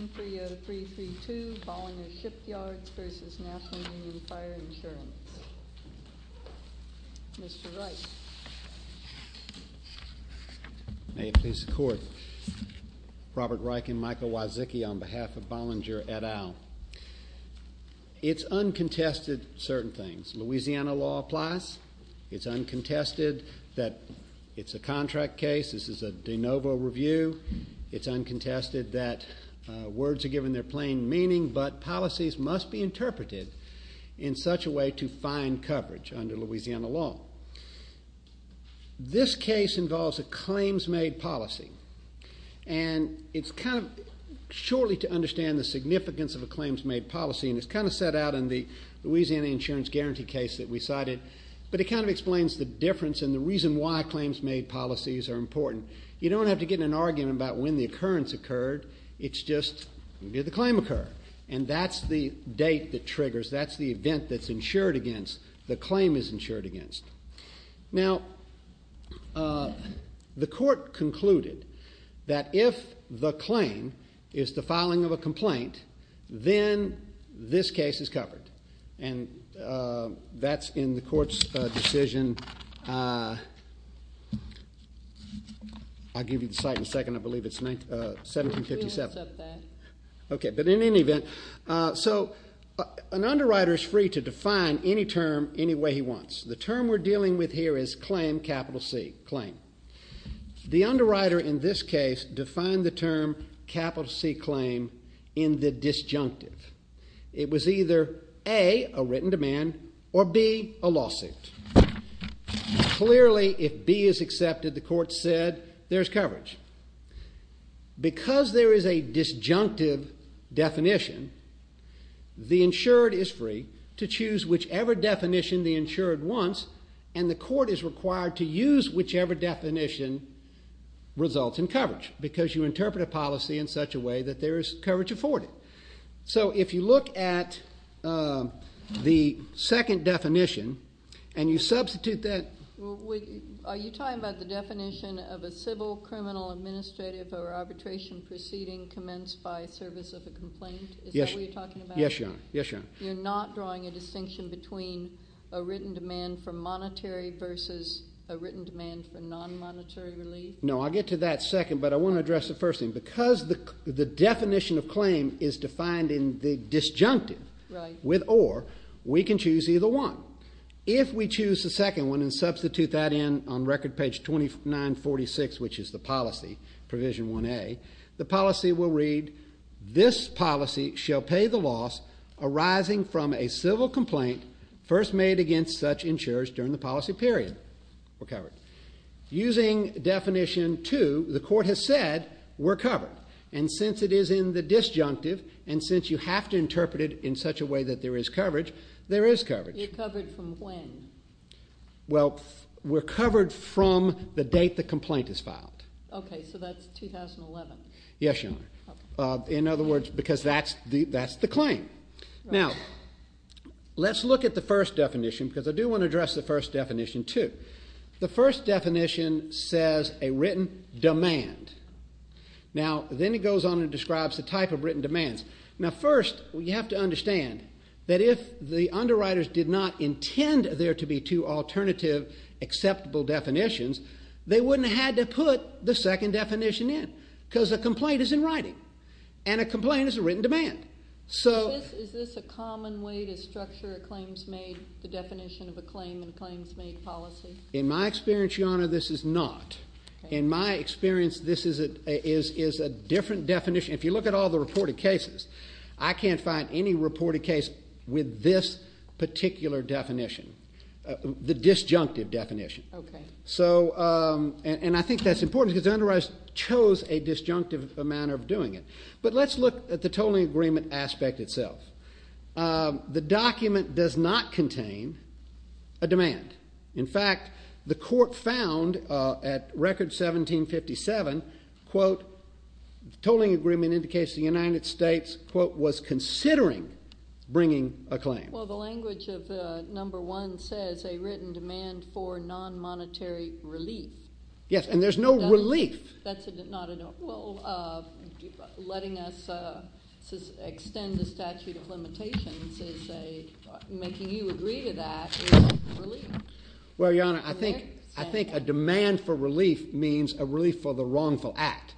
130332, Bollinger Shipyards v. National Union Fire Insurance. Mr. Reich. May it please the Court. Robert Reich and Michael Wyzicki on behalf of Bollinger et al. It's uncontested, certain things. Louisiana law applies. It's uncontested that it's a contract case. This is a de novo review. It's uncontested that words are given their plain meaning, but policies must be interpreted in such a way to find coverage under Louisiana law. This case involves a claims-made policy, and it's kind of surely to understand the significance of a claims-made policy, and it's kind of set out in the Louisiana insurance guarantee case that we cited, but it kind of explains the difference and the reason why claims-made policies are important. You don't have to get in an argument about when the occurrence occurred. It's just did the claim occur, and that's the date that triggers. That's the event that's insured against, the claim is insured against. Now, the Court concluded that if the claim is the filing of a complaint, then this case is covered, and that's in the Court's decision. I'll give you the site in a second. I believe it's 1757. Okay, but in any event, so an underwriter is free to define any term any way he wants. The term we're dealing with here is claim, capital C, claim. The underwriter in this case defined the term capital C claim in the disjunctive. It was either A, a written demand, or B, a lawsuit. Clearly, if B is accepted, the Court said there's coverage. Because there is a disjunctive definition, the insured is free to choose whichever definition the insured wants, and the Court is required to use whichever definition results in coverage because you interpret a policy in such a way that there is coverage afforded. So if you look at the second definition and you substitute that. Are you talking about the definition of a civil, criminal, administrative, or arbitration proceeding commenced by service of a complaint? Yes. Is that what you're talking about? Yes, Your Honor. You're not drawing a distinction between a written demand for monetary versus a written demand for non-monetary relief? No, I'll get to that second, but I want to address the first thing. Because the definition of claim is defined in the disjunctive with or, we can choose either one. If we choose the second one and substitute that in on record page 2946, which is the policy, Provision 1A, the policy will read, This policy shall pay the loss arising from a civil complaint first made against such insurers during the policy period. We're covered. Using definition 2, the court has said, we're covered. And since it is in the disjunctive, and since you have to interpret it in such a way that there is coverage, there is coverage. You're covered from when? Well, we're covered from the date the complaint is filed. Okay, so that's 2011. Yes, Your Honor. Okay. In other words, because that's the claim. Now, let's look at the first definition because I do want to address the first definition too. The first definition says a written demand. Now, then it goes on and describes the type of written demands. Now, first, you have to understand that if the underwriters did not intend there to be two alternative acceptable definitions, they wouldn't have had to put the second definition in because a complaint is in writing. And a complaint is a written demand. Is this a common way to structure a claims made, the definition of a claim in a claims made policy? In my experience, Your Honor, this is not. In my experience, this is a different definition. If you look at all the reported cases, I can't find any reported case with this particular definition, the disjunctive definition. Okay. And I think that's important because the underwriters chose a disjunctive manner of doing it. But let's look at the tolling agreement aspect itself. The document does not contain a demand. In fact, the court found at record 1757, quote, tolling agreement indicates the United States, quote, was considering bringing a claim. Well, the language of number one says a written demand for non-monetary relief. Yes, and there's no relief. That's not a, well, letting us extend the statute of limitations is a, making you agree to that is relief. Well, Your Honor, I think a demand for relief means a relief for the wrongful act.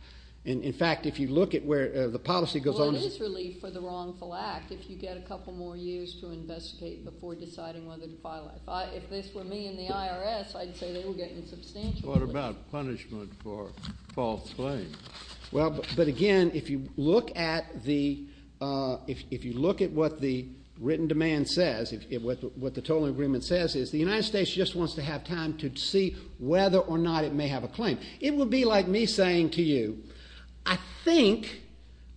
In fact, if you look at where the policy goes on. Well, it is relief for the wrongful act if you get a couple more years to investigate before deciding whether to file it. If this were me in the IRS, I'd say they were getting substantial relief. What about punishment for false claims? Well, but again, if you look at the, if you look at what the written demand says, what the tolling agreement says is the United States just wants to have time to see whether or not it may have a claim. It would be like me saying to you, I think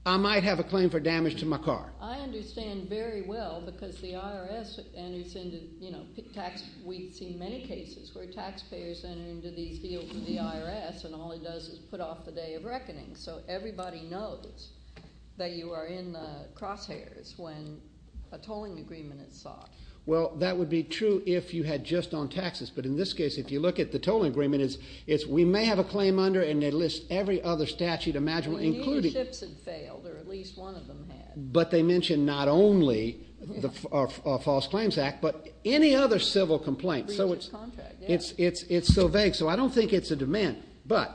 I might have a claim for damage to my car. Well, I understand very well because the IRS enters into, you know, tax, we've seen many cases where taxpayers enter into these deals with the IRS and all it does is put off the day of reckoning, so everybody knows that you are in the crosshairs when a tolling agreement is sought. Well, that would be true if you had just on taxes, but in this case, if you look at the tolling agreement, it's we may have a claim under and they list every other statute imaginable, including. The ships had failed or at least one of them had. But they mention not only the False Claims Act, but any other civil complaint. So it's contract. It's so vague, so I don't think it's a demand, but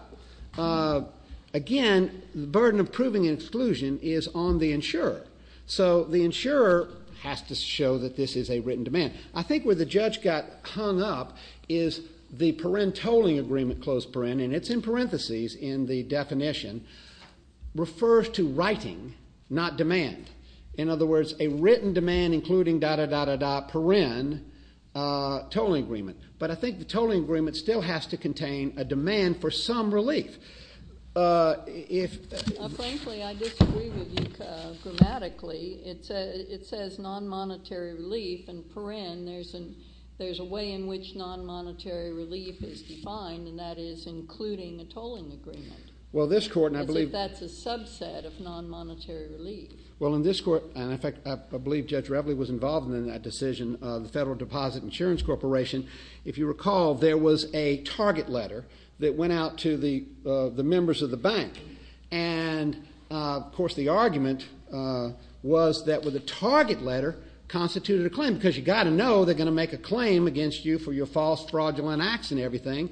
again, the burden of proving an exclusion is on the insurer. So the insurer has to show that this is a written demand. I think where the judge got hung up is the Perrin tolling agreement, close Perrin, and it's in parentheses in the definition, refers to writing, not demand. In other words, a written demand including da-da-da-da-da Perrin tolling agreement. But I think the tolling agreement still has to contain a demand for some relief. Frankly, I disagree with you grammatically. It says non-monetary relief and Perrin. There's a way in which non-monetary relief is defined, and that is including a tolling agreement. Well, this court, and I believe- As if that's a subset of non-monetary relief. Well, in this court, and I believe Judge Reveley was involved in that decision, the Federal Deposit Insurance Corporation, if you recall, there was a target letter that went out to the members of the bank. And, of course, the argument was that the target letter constituted a claim because you've got to know they're going to make a claim against you for your false, fraudulent acts and everything.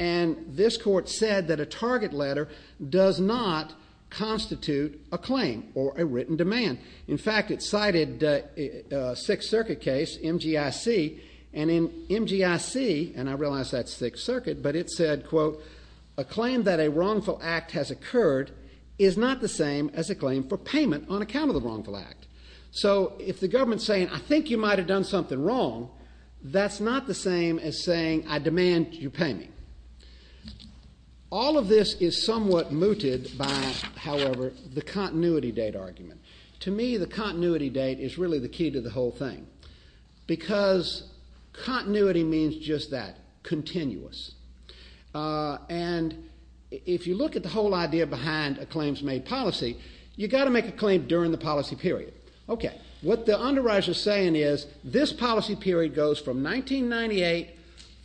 And this court said that a target letter does not constitute a claim or a written demand. In fact, it cited a Sixth Circuit case, MGIC. And in MGIC, and I realize that's Sixth Circuit, but it said, quote, a claim that a wrongful act has occurred is not the same as a claim for payment on account of the wrongful act. So if the government's saying, I think you might have done something wrong, that's not the same as saying, I demand you pay me. All of this is somewhat mooted by, however, the continuity date argument. To me, the continuity date is really the key to the whole thing because continuity means just that, continuous. And if you look at the whole idea behind a claims-made policy, you've got to make a claim during the policy period. Okay, what the underwriter's saying is this policy period goes from 1998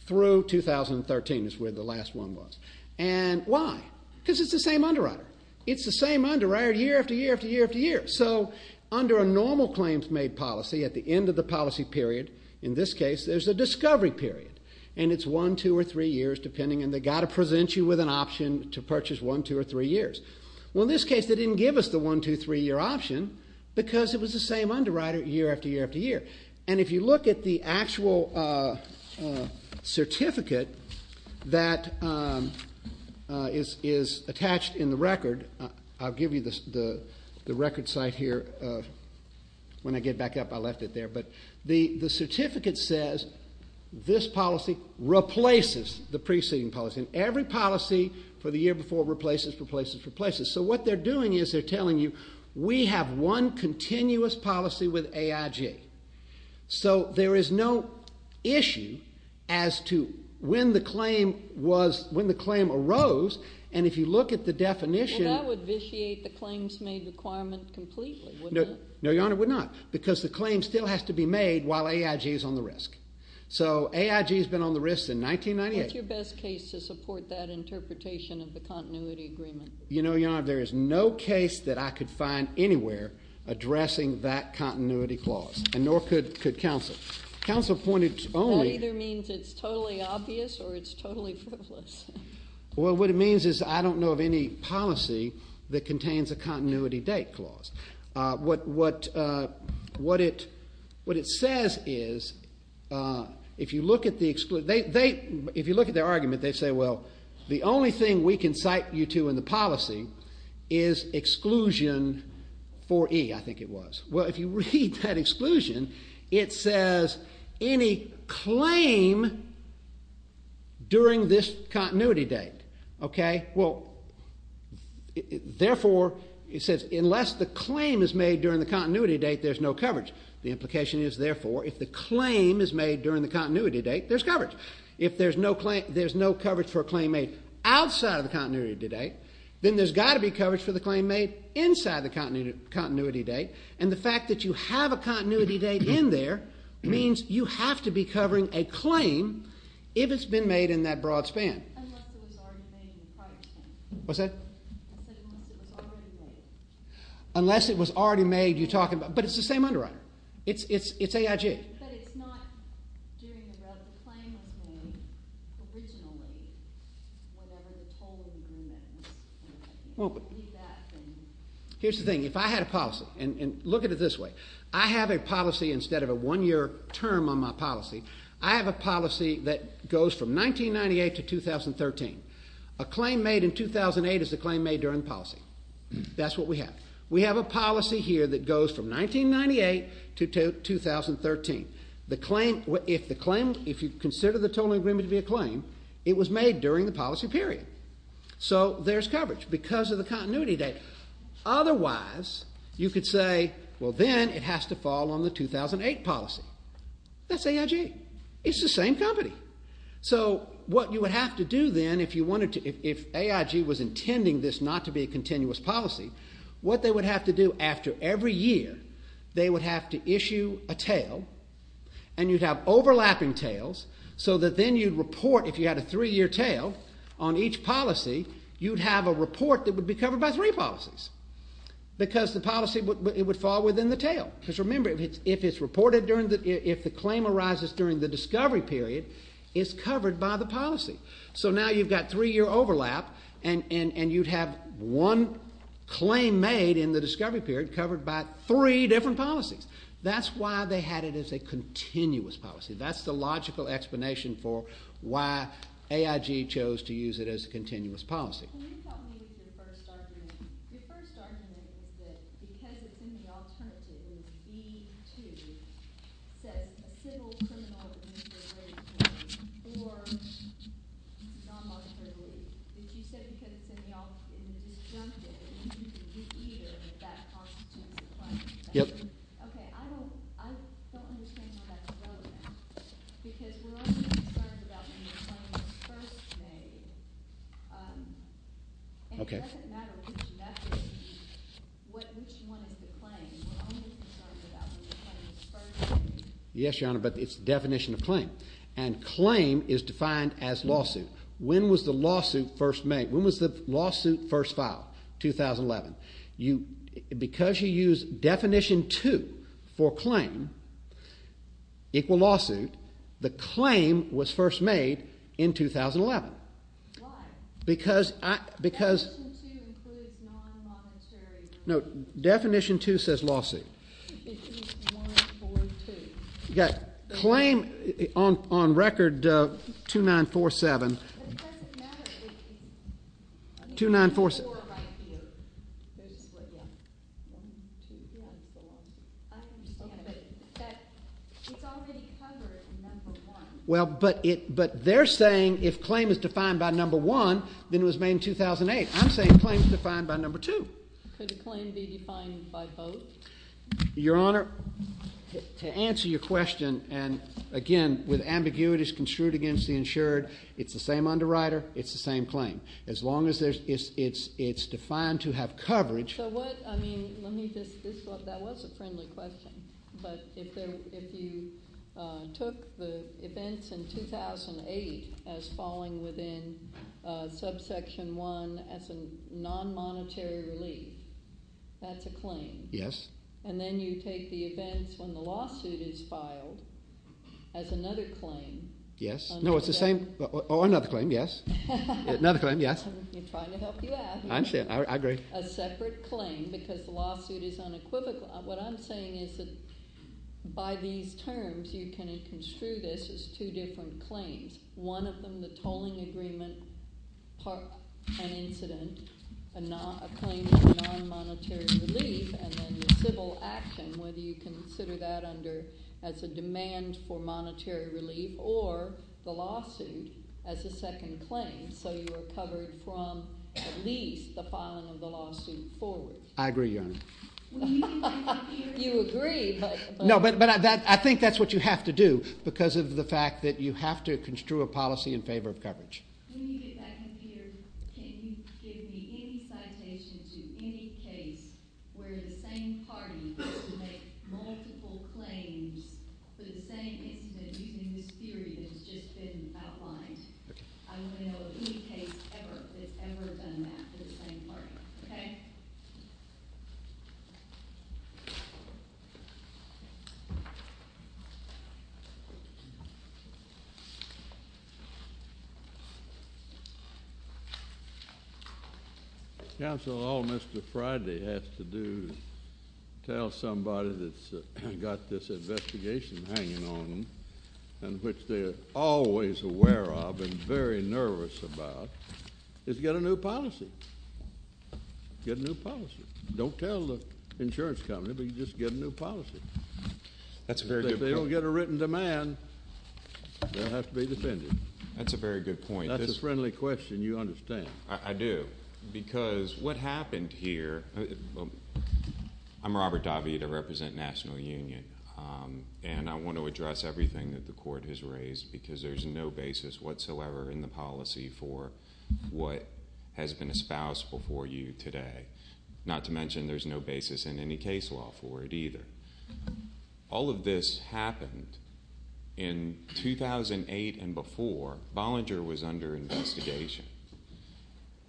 through 2013 is where the last one was. And why? Because it's the same underwriter. It's the same underwriter year after year after year after year. So under a normal claims-made policy, at the end of the policy period, in this case, there's a discovery period, and it's one, two, or three years, depending, and they've got to present you with an option to purchase one, two, or three years. Well, in this case, they didn't give us the one, two, three-year option because it was the same underwriter year after year after year. And if you look at the actual certificate that is attached in the record, I'll give you the record site here. When I get back up, I left it there. But the certificate says this policy replaces the preceding policy, and every policy for the year before replaces, replaces, replaces. So what they're doing is they're telling you we have one continuous policy with AIG. So there is no issue as to when the claim arose. And if you look at the definition. Well, that would vitiate the claims-made requirement completely, wouldn't it? No, Your Honor, it would not because the claim still has to be made while AIG is on the risk. So AIG has been on the risk since 1998. What's your best case to support that interpretation of the continuity agreement? You know, Your Honor, there is no case that I could find anywhere addressing that continuity clause, and nor could counsel. Counsel pointed only. That either means it's totally obvious or it's totally frivolous. Well, what it means is I don't know of any policy that contains a continuity date clause. What it says is, if you look at the exclusion, if you look at their argument, they say, well, the only thing we can cite you to in the policy is exclusion 4E, I think it was. Well, if you read that exclusion, it says, any claim during this continuity date. Okay. Well, therefore, it says, unless the claim is made during the continuity date, there's no coverage. The implication is, therefore, if the claim is made during the continuity date, there's coverage. If there's no coverage for a claim made outside of the continuity date, then there's got to be coverage for the claim made inside the continuity date. And the fact that you have a continuity date in there means you have to be covering a claim if it's been made in that broad span. Unless it was already made in the prior span. What's that? I said unless it was already made. Unless it was already made, you're talking about. But it's the same underwriter. It's AIG. But it's not during the rub. The claim was made originally, whatever the total agreement is. Here's the thing. If I had a policy, and look at it this way, I have a policy instead of a one-year term on my policy, I have a policy that goes from 1998 to 2013. A claim made in 2008 is a claim made during the policy. That's what we have. We have a policy here that goes from 1998 to 2013. If you consider the total agreement to be a claim, it was made during the policy period. So there's coverage because of the continuity date. Otherwise, you could say, well, then it has to fall on the 2008 policy. That's AIG. It's the same company. So what you would have to do then if AIG was intending this not to be a continuous policy, what they would have to do after every year, they would have to issue a tail, and you'd have overlapping tails so that then you'd report if you had a three-year tail on each policy, you'd have a report that would be covered by three policies because the policy would fall within the tail. Because remember, if the claim arises during the discovery period, it's covered by the policy. So now you've got three-year overlap, and you'd have one claim made in the discovery period covered by three different policies. That's why they had it as a continuous policy. That's the logical explanation for why AIG chose to use it as a continuous policy. Can you help me with your first argument? Your first argument is that because it's in the alternative, B-2, says a civil criminal initial rating claim or non-monetary relief. If you said because it's in the disjunctive, you could do either, but that constitutes a claim. Okay. I don't understand why that's relevant because we're only concerned about when the claim is first made. Okay. And it doesn't matter which method, which one is the claim. We're only concerned about when the claim is first made. Yes, Your Honor, but it's the definition of claim. And claim is defined as lawsuit. When was the lawsuit first made? When was the lawsuit first filed? 2011. Because you used definition 2 for claim, equal lawsuit, the claim was first made in 2011. Why? Because I, because. Definition 2 includes non-monetary relief. No, definition 2 says lawsuit. It means 142. You got claim on record 2947. But it doesn't matter if it's. 2947. It's already covered in number one. Well, but they're saying if claim is defined by number one, then it was made in 2008. I'm saying claim is defined by number two. Could a claim be defined by both? Your Honor, to answer your question, and again, with ambiguities construed against the insured, it's the same underwriter. It's the same claim. As long as it's defined to have coverage. So what, I mean, let me just, that was a friendly question. But if you took the events in 2008 as falling within subsection 1 as a non-monetary relief, that's a claim. Yes. And then you take the events when the lawsuit is filed as another claim. Yes. No, it's the same. Oh, another claim, yes. I'm trying to help you out. I understand. I agree. A separate claim because the lawsuit is unequivocal. What I'm saying is that by these terms, you can construe this as two different claims. One of them, the tolling agreement, an incident, a claim of non-monetary relief, and then the civil action, whether you consider that under, as a demand for monetary relief, or the lawsuit as a second claim. So you are covered from at least the filing of the lawsuit forward. I agree, Your Honor. You agree, but. No, but I think that's what you have to do because of the fact that you have to construe a policy in favor of coverage. When you get back in here, can you give me any citation to any case where the same party has to make multiple claims for the same incident using this theory that has just been outlined? Okay. I want to know of any case ever that's ever done that for the same party. Okay? Counsel, all Mr. Friday has to do is tell somebody that's got this investigation hanging on them and which they are always aware of and very nervous about is get a new policy. Get a new policy. Don't tell the insurance company, but you just get a new policy. That's a very good point. If they don't get a written demand, they'll have to be defended. That's a very good point. That's a friendly question. You understand. I do because what happened here. I'm Robert David. I represent National Union, and I want to address everything that the court has raised because there's no basis whatsoever in the policy for what has been espoused before you today. Not to mention there's no basis in any case law for it either. All of this happened in 2008 and before. Bollinger was under investigation.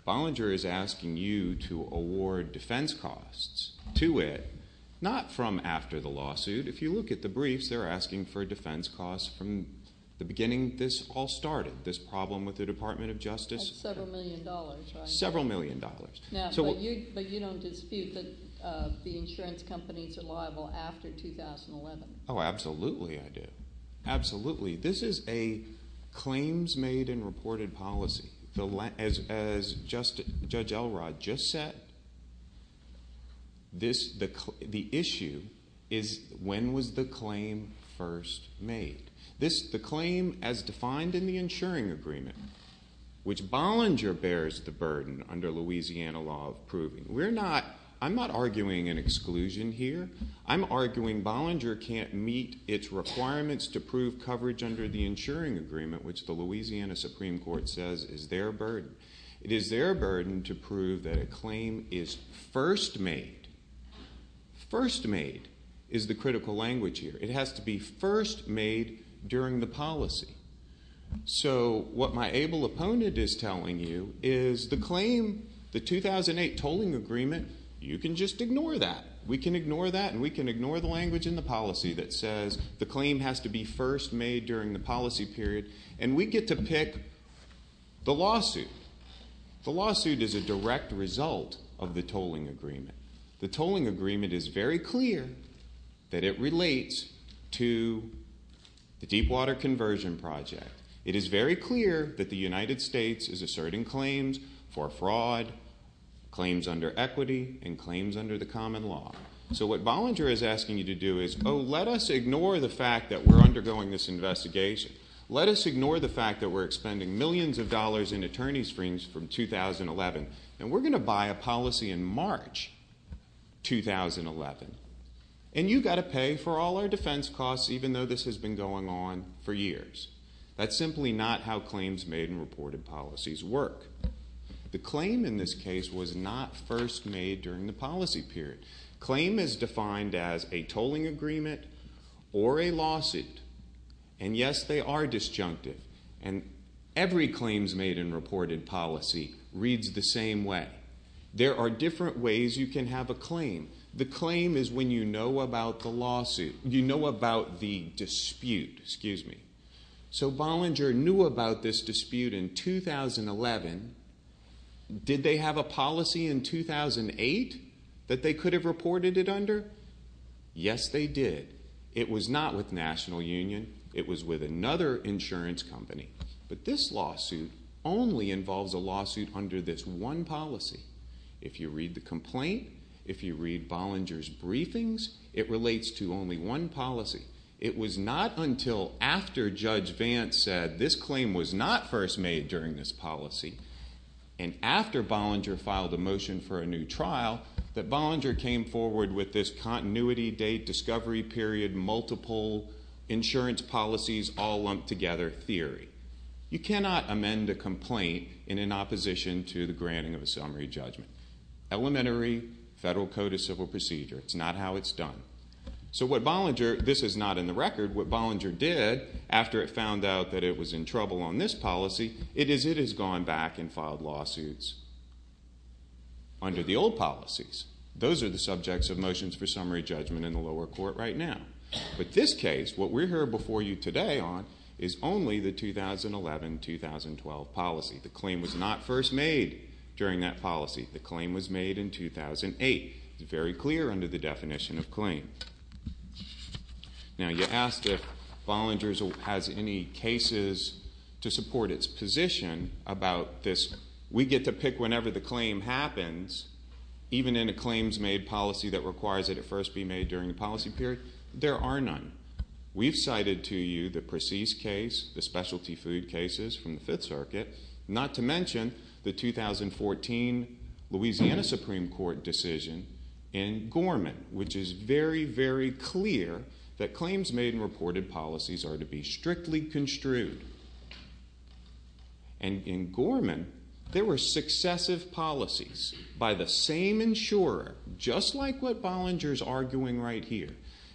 Bollinger is asking you to award defense costs to it, not from after the lawsuit. If you look at the briefs, they're asking for defense costs from the beginning this all started, this problem with the Department of Justice. That's several million dollars, right? Several million dollars. But you don't dispute that the insurance companies are liable after 2011? Oh, absolutely I do. Absolutely. This is a claims made and reported policy. As Judge Elrod just said, the issue is when was the claim first made? The claim as defined in the insuring agreement, which Bollinger bears the burden under Louisiana law of proving. I'm not arguing an exclusion here. I'm arguing Bollinger can't meet its requirements to prove coverage under the insuring agreement, which the Louisiana Supreme Court says is their burden. It is their burden to prove that a claim is first made. First made is the critical language here. It has to be first made during the policy. So what my able opponent is telling you is the claim, the 2008 tolling agreement, you can just ignore that. We can ignore that and we can ignore the language in the policy that says the claim has to be first made during the policy period. And we get to pick the lawsuit. The lawsuit is a direct result of the tolling agreement. The tolling agreement is very clear that it relates to the Deepwater Conversion Project. It is very clear that the United States is asserting claims for fraud, claims under equity, and claims under the common law. So what Bollinger is asking you to do is, oh, let us ignore the fact that we're undergoing this investigation. Let us ignore the fact that we're expending millions of dollars in attorney's freedoms from 2011. And we're going to buy a policy in March 2011. And you've got to pay for all our defense costs even though this has been going on for years. That's simply not how claims made in reported policies work. The claim in this case was not first made during the policy period. Claim is defined as a tolling agreement or a lawsuit. And, yes, they are disjunctive. And every claims made in reported policy reads the same way. There are different ways you can have a claim. The claim is when you know about the dispute. So Bollinger knew about this dispute in 2011. Did they have a policy in 2008 that they could have reported it under? Yes, they did. It was not with National Union. It was with another insurance company. But this lawsuit only involves a lawsuit under this one policy. If you read the complaint, if you read Bollinger's briefings, it relates to only one policy. It was not until after Judge Vance said this claim was not first made during this policy and after Bollinger filed a motion for a new trial that Bollinger came forward with this continuity date, discovery period, multiple insurance policies all lumped together theory. You cannot amend a complaint in an opposition to the granting of a summary judgment. Elementary federal code of civil procedure, it's not how it's done. So what Bollinger, this is not in the record, what Bollinger did after it found out that it was in trouble on this policy, it is it has gone back and filed lawsuits under the old policies. Those are the subjects of motions for summary judgment in the lower court right now. But this case, what we're here before you today on, is only the 2011-2012 policy. The claim was not first made during that policy. The claim was made in 2008. It's very clear under the definition of claim. Now, you asked if Bollinger has any cases to support its position about this. We get to pick whenever the claim happens, even in a claims-made policy that requires it at first be made during the policy period. There are none. We've cited to you the Precis case, the specialty food cases from the Fifth Circuit, not to mention the 2014 Louisiana Supreme Court decision in Gorman, which is very, very clear that claims made in reported policies are to be strictly construed. And in Gorman, there were successive policies by the same insurer, just like what Bollinger is arguing right here.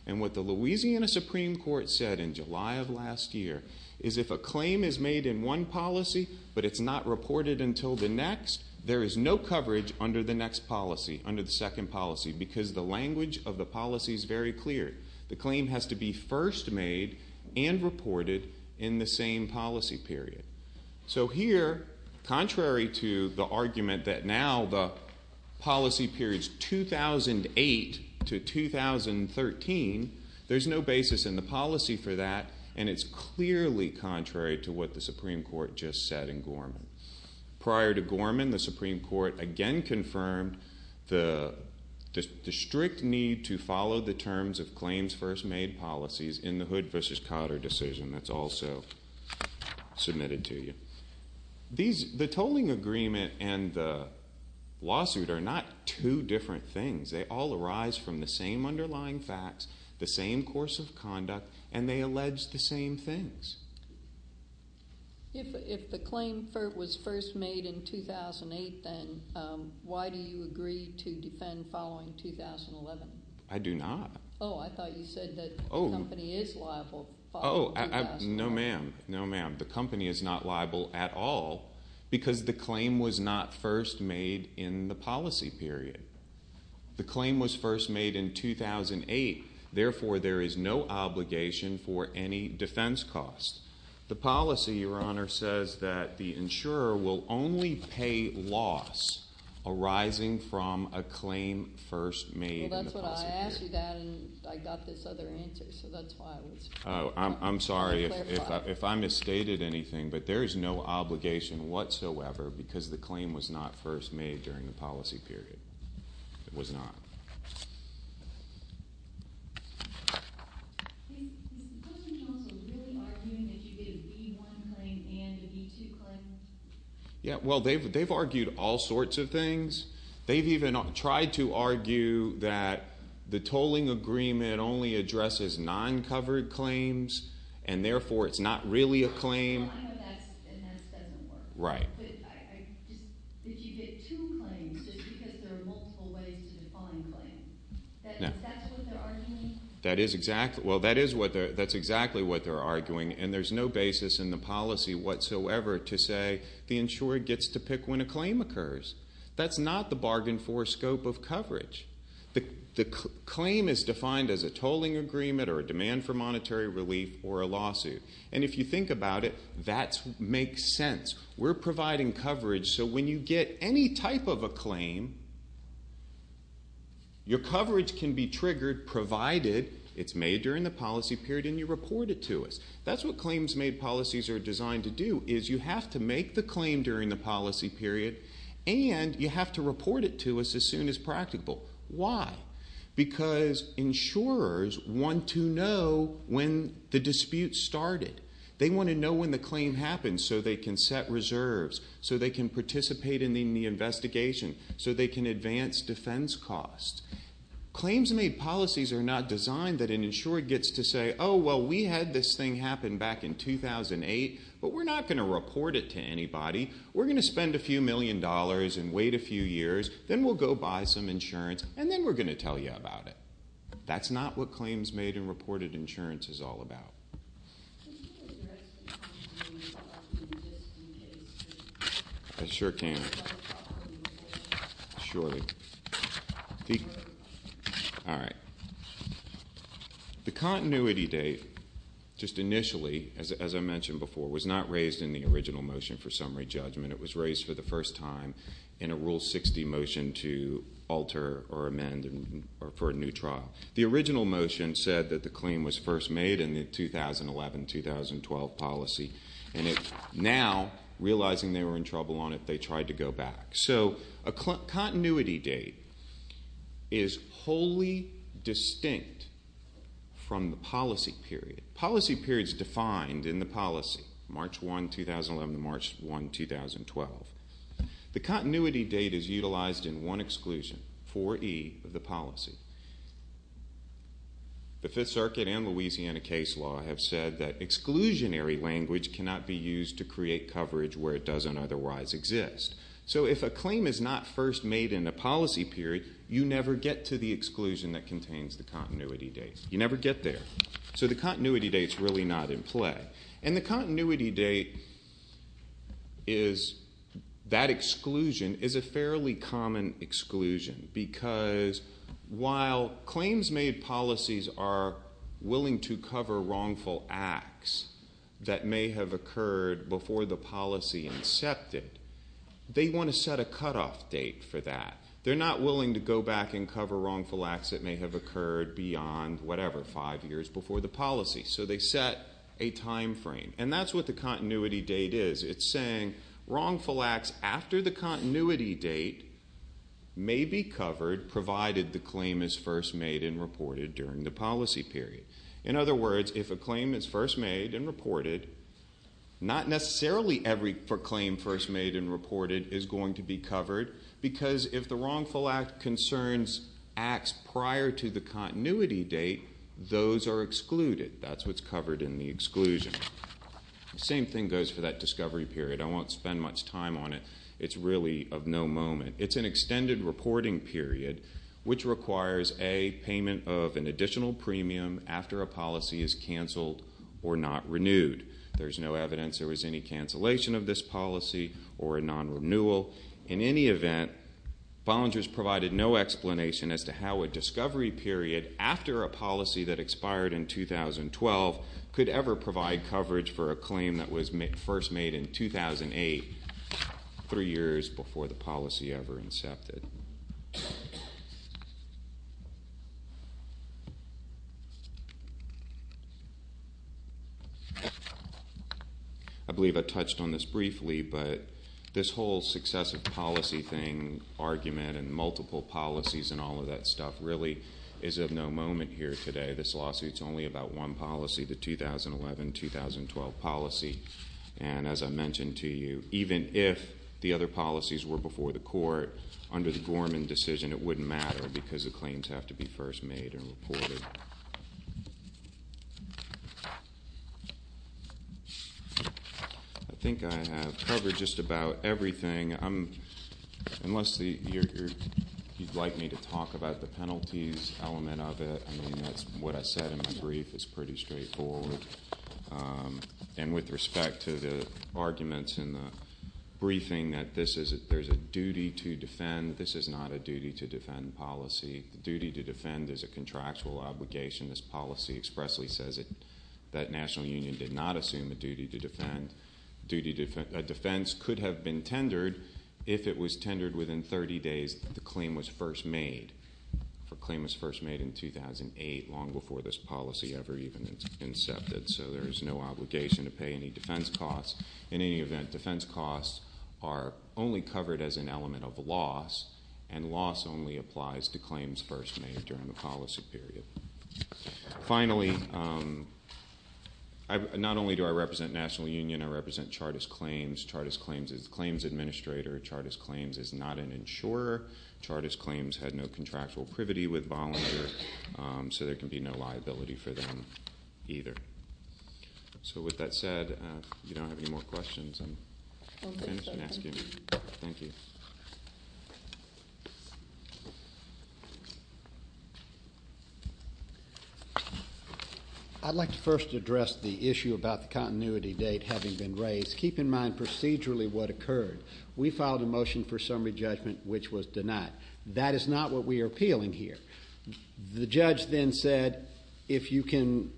And what the Louisiana Supreme Court said in July of last year is if a claim is made in one policy but it's not reported until the next, there is no coverage under the next policy, under the second policy, because the language of the policy is very clear. The claim has to be first made and reported in the same policy period. So here, contrary to the argument that now the policy period is 2008 to 2013, there's no basis in the policy for that, and it's clearly contrary to what the Supreme Court just said in Gorman. Prior to Gorman, the Supreme Court again confirmed the strict need to follow the terms of claims first made policies in the Hood v. Cotter decision. That's also submitted to you. The tolling agreement and the lawsuit are not two different things. They all arise from the same underlying facts, the same course of conduct, and they allege the same things. If the claim was first made in 2008, then why do you agree to defend following 2011? I do not. Oh, I thought you said that the company is liable. No, ma'am. No, ma'am. The company is not liable at all because the claim was not first made in the policy period. The claim was first made in 2008. Therefore, there is no obligation for any defense cost. The policy, Your Honor, says that the insurer will only pay loss arising from a claim first made in the policy period. Well, that's what I asked you that, and I got this other answer, so that's why I was trying to clarify. I'm sorry if I misstated anything, but there is no obligation whatsoever because the claim was not first made during the policy period. It was not. Is the Postal Council really arguing that you get a V-1 claim and a V-2 claim? Yeah, well, they've argued all sorts of things. They've even tried to argue that the tolling agreement only addresses non-covered claims, and therefore it's not really a claim. Well, I know that, and that doesn't work. Right. Did you get two claims just because there are multiple ways to define claims? No. That's what they're arguing? That is exactly what they're arguing, and there's no basis in the policy whatsoever to say the insurer gets to pick when a claim occurs. That's not the bargain for scope of coverage. The claim is defined as a tolling agreement or a demand for monetary relief or a lawsuit, and if you think about it, that makes sense. We're providing coverage, so when you get any type of a claim, your coverage can be triggered provided it's made during the policy period and you report it to us. That's what claims-made policies are designed to do is you have to make the claim during the policy period, and you have to report it to us as soon as practical. Why? Because insurers want to know when the dispute started. They want to know when the claim happened so they can set reserves, so they can participate in the investigation, so they can advance defense costs. Claims-made policies are not designed that an insurer gets to say, oh, well, we had this thing happen back in 2008, but we're not going to report it to anybody. We're going to spend a few million dollars and wait a few years, then we'll go buy some insurance, and then we're going to tell you about it. That's not what claims-made and reported insurance is all about. Can you address the continuity date? I sure can. Surely. All right. The continuity date, just initially, as I mentioned before, was not raised in the original motion for summary judgment. It was raised for the first time in a Rule 60 motion to alter or amend for a new trial. The original motion said that the claim was first made in the 2011-2012 policy, and now, realizing they were in trouble on it, they tried to go back. So a continuity date is wholly distinct from the policy period. Policy period is defined in the policy, March 1, 2011 to March 1, 2012. The continuity date is utilized in one exclusion, 4E, of the policy. The Fifth Circuit and Louisiana case law have said that exclusionary language cannot be used to create coverage where it doesn't otherwise exist. So if a claim is not first made in a policy period, you never get to the exclusion that contains the continuity date. You never get there. So the continuity date is really not in play. And the continuity date is that exclusion is a fairly common exclusion because while claims made policies are willing to cover wrongful acts that may have occurred before the policy incepted, they want to set a cutoff date for that. They're not willing to go back and cover wrongful acts that may have occurred beyond whatever, five years before the policy. So they set a time frame. And that's what the continuity date is. It's saying wrongful acts after the continuity date may be covered, provided the claim is first made and reported during the policy period. In other words, if a claim is first made and reported, because if the wrongful act concerns acts prior to the continuity date, those are excluded. That's what's covered in the exclusion. The same thing goes for that discovery period. I won't spend much time on it. It's really of no moment. It's an extended reporting period, which requires a payment of an additional premium after a policy is canceled or not renewed. There's no evidence there was any cancellation of this policy or a non-renewal. In any event, Bollinger's provided no explanation as to how a discovery period after a policy that expired in 2012 could ever provide coverage for a claim that was first made in 2008, three years before the policy ever incepted. I believe I touched on this briefly, but this whole successive policy thing, argument, and multiple policies and all of that stuff really is of no moment here today. This lawsuit is only about one policy, the 2011-2012 policy. And as I mentioned to you, even if the other policies were before the court, under the Gorman decision it wouldn't matter because the claims have to be first made and reported. I think I have covered just about everything. Unless you'd like me to talk about the penalties element of it, that's what I said in my brief is pretty straightforward. And with respect to the arguments in the briefing that there's a duty to defend, this is not a duty to defend policy. The duty to defend is a contractual obligation. This policy expressly says that National Union did not assume a duty to defend. A defense could have been tendered if it was tendered within 30 days that the claim was first made. The claim was first made in 2008, long before this policy ever even incepted, so there is no obligation to pay any defense costs. In any event, defense costs are only covered as an element of loss, and loss only applies to claims first made during the policy period. Finally, not only do I represent National Union, I represent Chartist Claims. Chartist Claims is a claims administrator. Chartist Claims is not an insurer. Chartist Claims had no contractual privity with Bollinger, so there can be no liability for them either. So with that said, if you don't have any more questions, I'm finished asking. Thank you. I'd like to first address the issue about the continuity date having been raised. Keep in mind procedurally what occurred. We filed a motion for summary judgment, which was denied. That is not what we are appealing here. The judge then said, if you can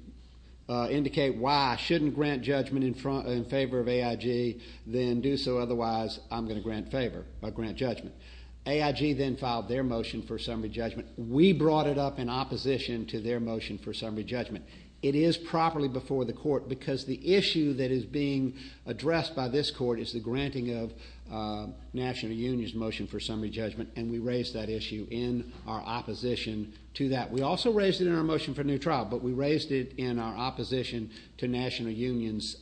indicate why I shouldn't grant judgment in favor of AIG, then do so, otherwise I'm going to grant judgment. AIG then filed their motion for summary judgment. We brought it up in opposition to their motion for summary judgment. It is properly before the court, because the issue that is being addressed by this court is the granting of National Union's motion for summary judgment, and we raised that issue in our opposition to that. We also raised it in our motion for new trial, but we raised it in our opposition to National Union's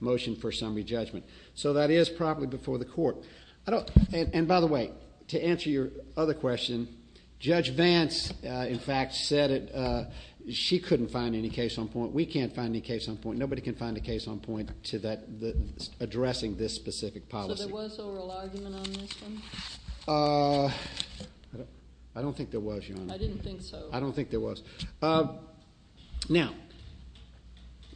motion for summary judgment. So that is properly before the court. And by the way, to answer your other question, Judge Vance, in fact, said she couldn't find any case on point. We can't find any case on point. Addressing this specific policy. So there was an oral argument on this one? I don't think there was, Your Honor. I didn't think so. I don't think there was. Now,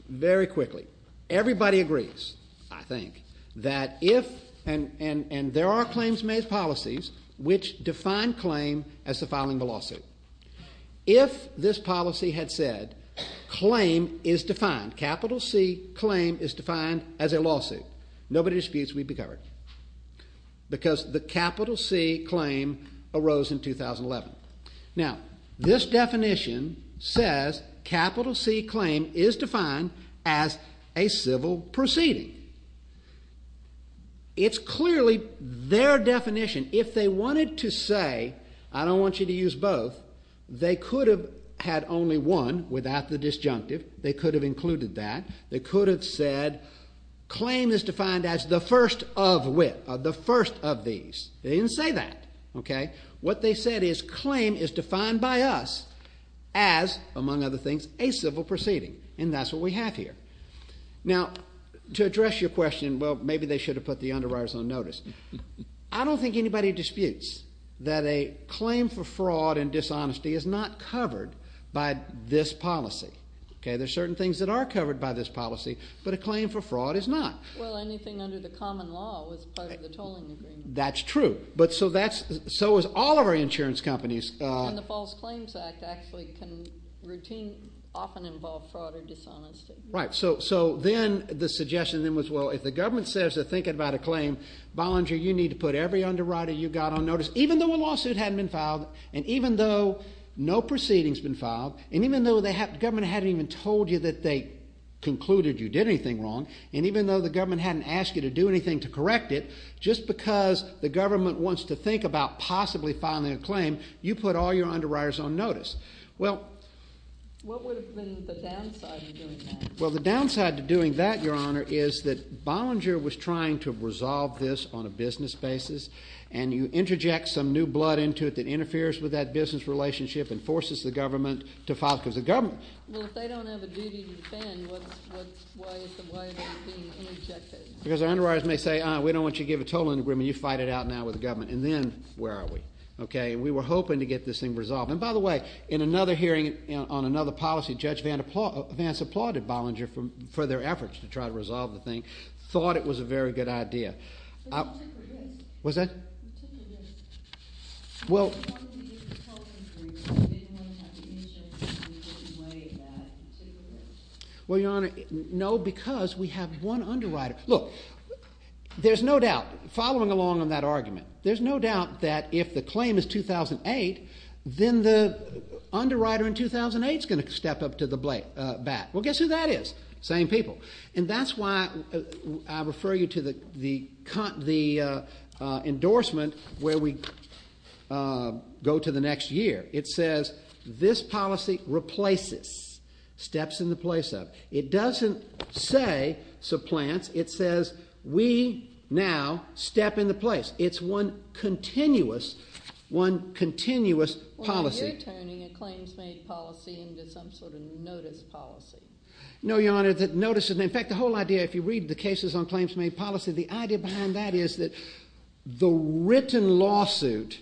very quickly. Everybody agrees, I think, that if, and there are claims made policies which define claim as the filing of a lawsuit. If this policy had said claim is defined, capital C claim is defined as a lawsuit, nobody disputes we'd be covered. Because the capital C claim arose in 2011. Now, this definition says capital C claim is defined as a civil proceeding. It's clearly their definition. If they wanted to say, I don't want you to use both, they could have had only one without the disjunctive. They could have included that. They could have said claim is defined as the first of which, the first of these. They didn't say that. What they said is claim is defined by us as, among other things, a civil proceeding. And that's what we have here. Now, to address your question, well, maybe they should have put the underwriters on notice. I don't think anybody disputes that a claim for fraud and dishonesty is not covered by this policy. There are certain things that are covered by this policy, but a claim for fraud is not. Well, anything under the common law was part of the tolling agreement. That's true. But so is all of our insurance companies. And the False Claims Act actually can routinely often involve fraud or dishonesty. Right. So then the suggestion then was, well, if the government says they're thinking about a claim, Bollinger, you need to put every underwriter you've got on notice, even though a lawsuit hadn't been filed and even though no proceeding's been filed and even though the government hadn't even told you that they concluded you did anything wrong and even though the government hadn't asked you to do anything to correct it, just because the government wants to think about possibly filing a claim, you put all your underwriters on notice. Well, what would have been the downside of doing that? Well, the downside to doing that, Your Honor, is that Bollinger was trying to resolve this on a business basis and you interject some new blood into it that interferes with that business relationship and forces the government to file because the government. Well, if they don't have a duty to defend, why is the way they're being interjected? Because our underwriters may say, we don't want you to give a totaling agreement. You fight it out now with the government. And then where are we? Okay. We were hoping to get this thing resolved. And by the way, in another hearing on another policy, Judge Vance applauded Bollinger for their efforts to try to resolve the thing, thought it was a very good idea. But you took a risk. What's that? You took a risk. Well. Well, Your Honor, no, because we have one underwriter. Look, there's no doubt, following along on that argument, there's no doubt that if the claim is 2008, then the underwriter in 2008 is going to step up to the bat. Well, guess who that is? Same people. And that's why I refer you to the endorsement where we go to the next year. It says, this policy replaces steps in the place of. It doesn't say supplants. It says, we now step in the place. It's one continuous, one continuous policy. Well, you're turning a claims-made policy into some sort of notice policy. No, Your Honor. In fact, the whole idea, if you read the cases on claims-made policy, the idea behind that is that the written lawsuit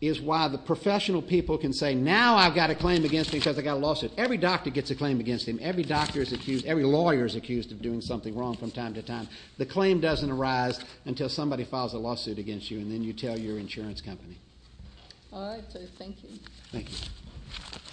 is why the professional people can say, now I've got a claim against me because I've got a lawsuit. Every doctor gets a claim against him. Every doctor is accused. Every lawyer is accused of doing something wrong from time to time. The claim doesn't arise until somebody files a lawsuit against you, and then you tell your insurance company. All right, sir. Thank you. Thank you.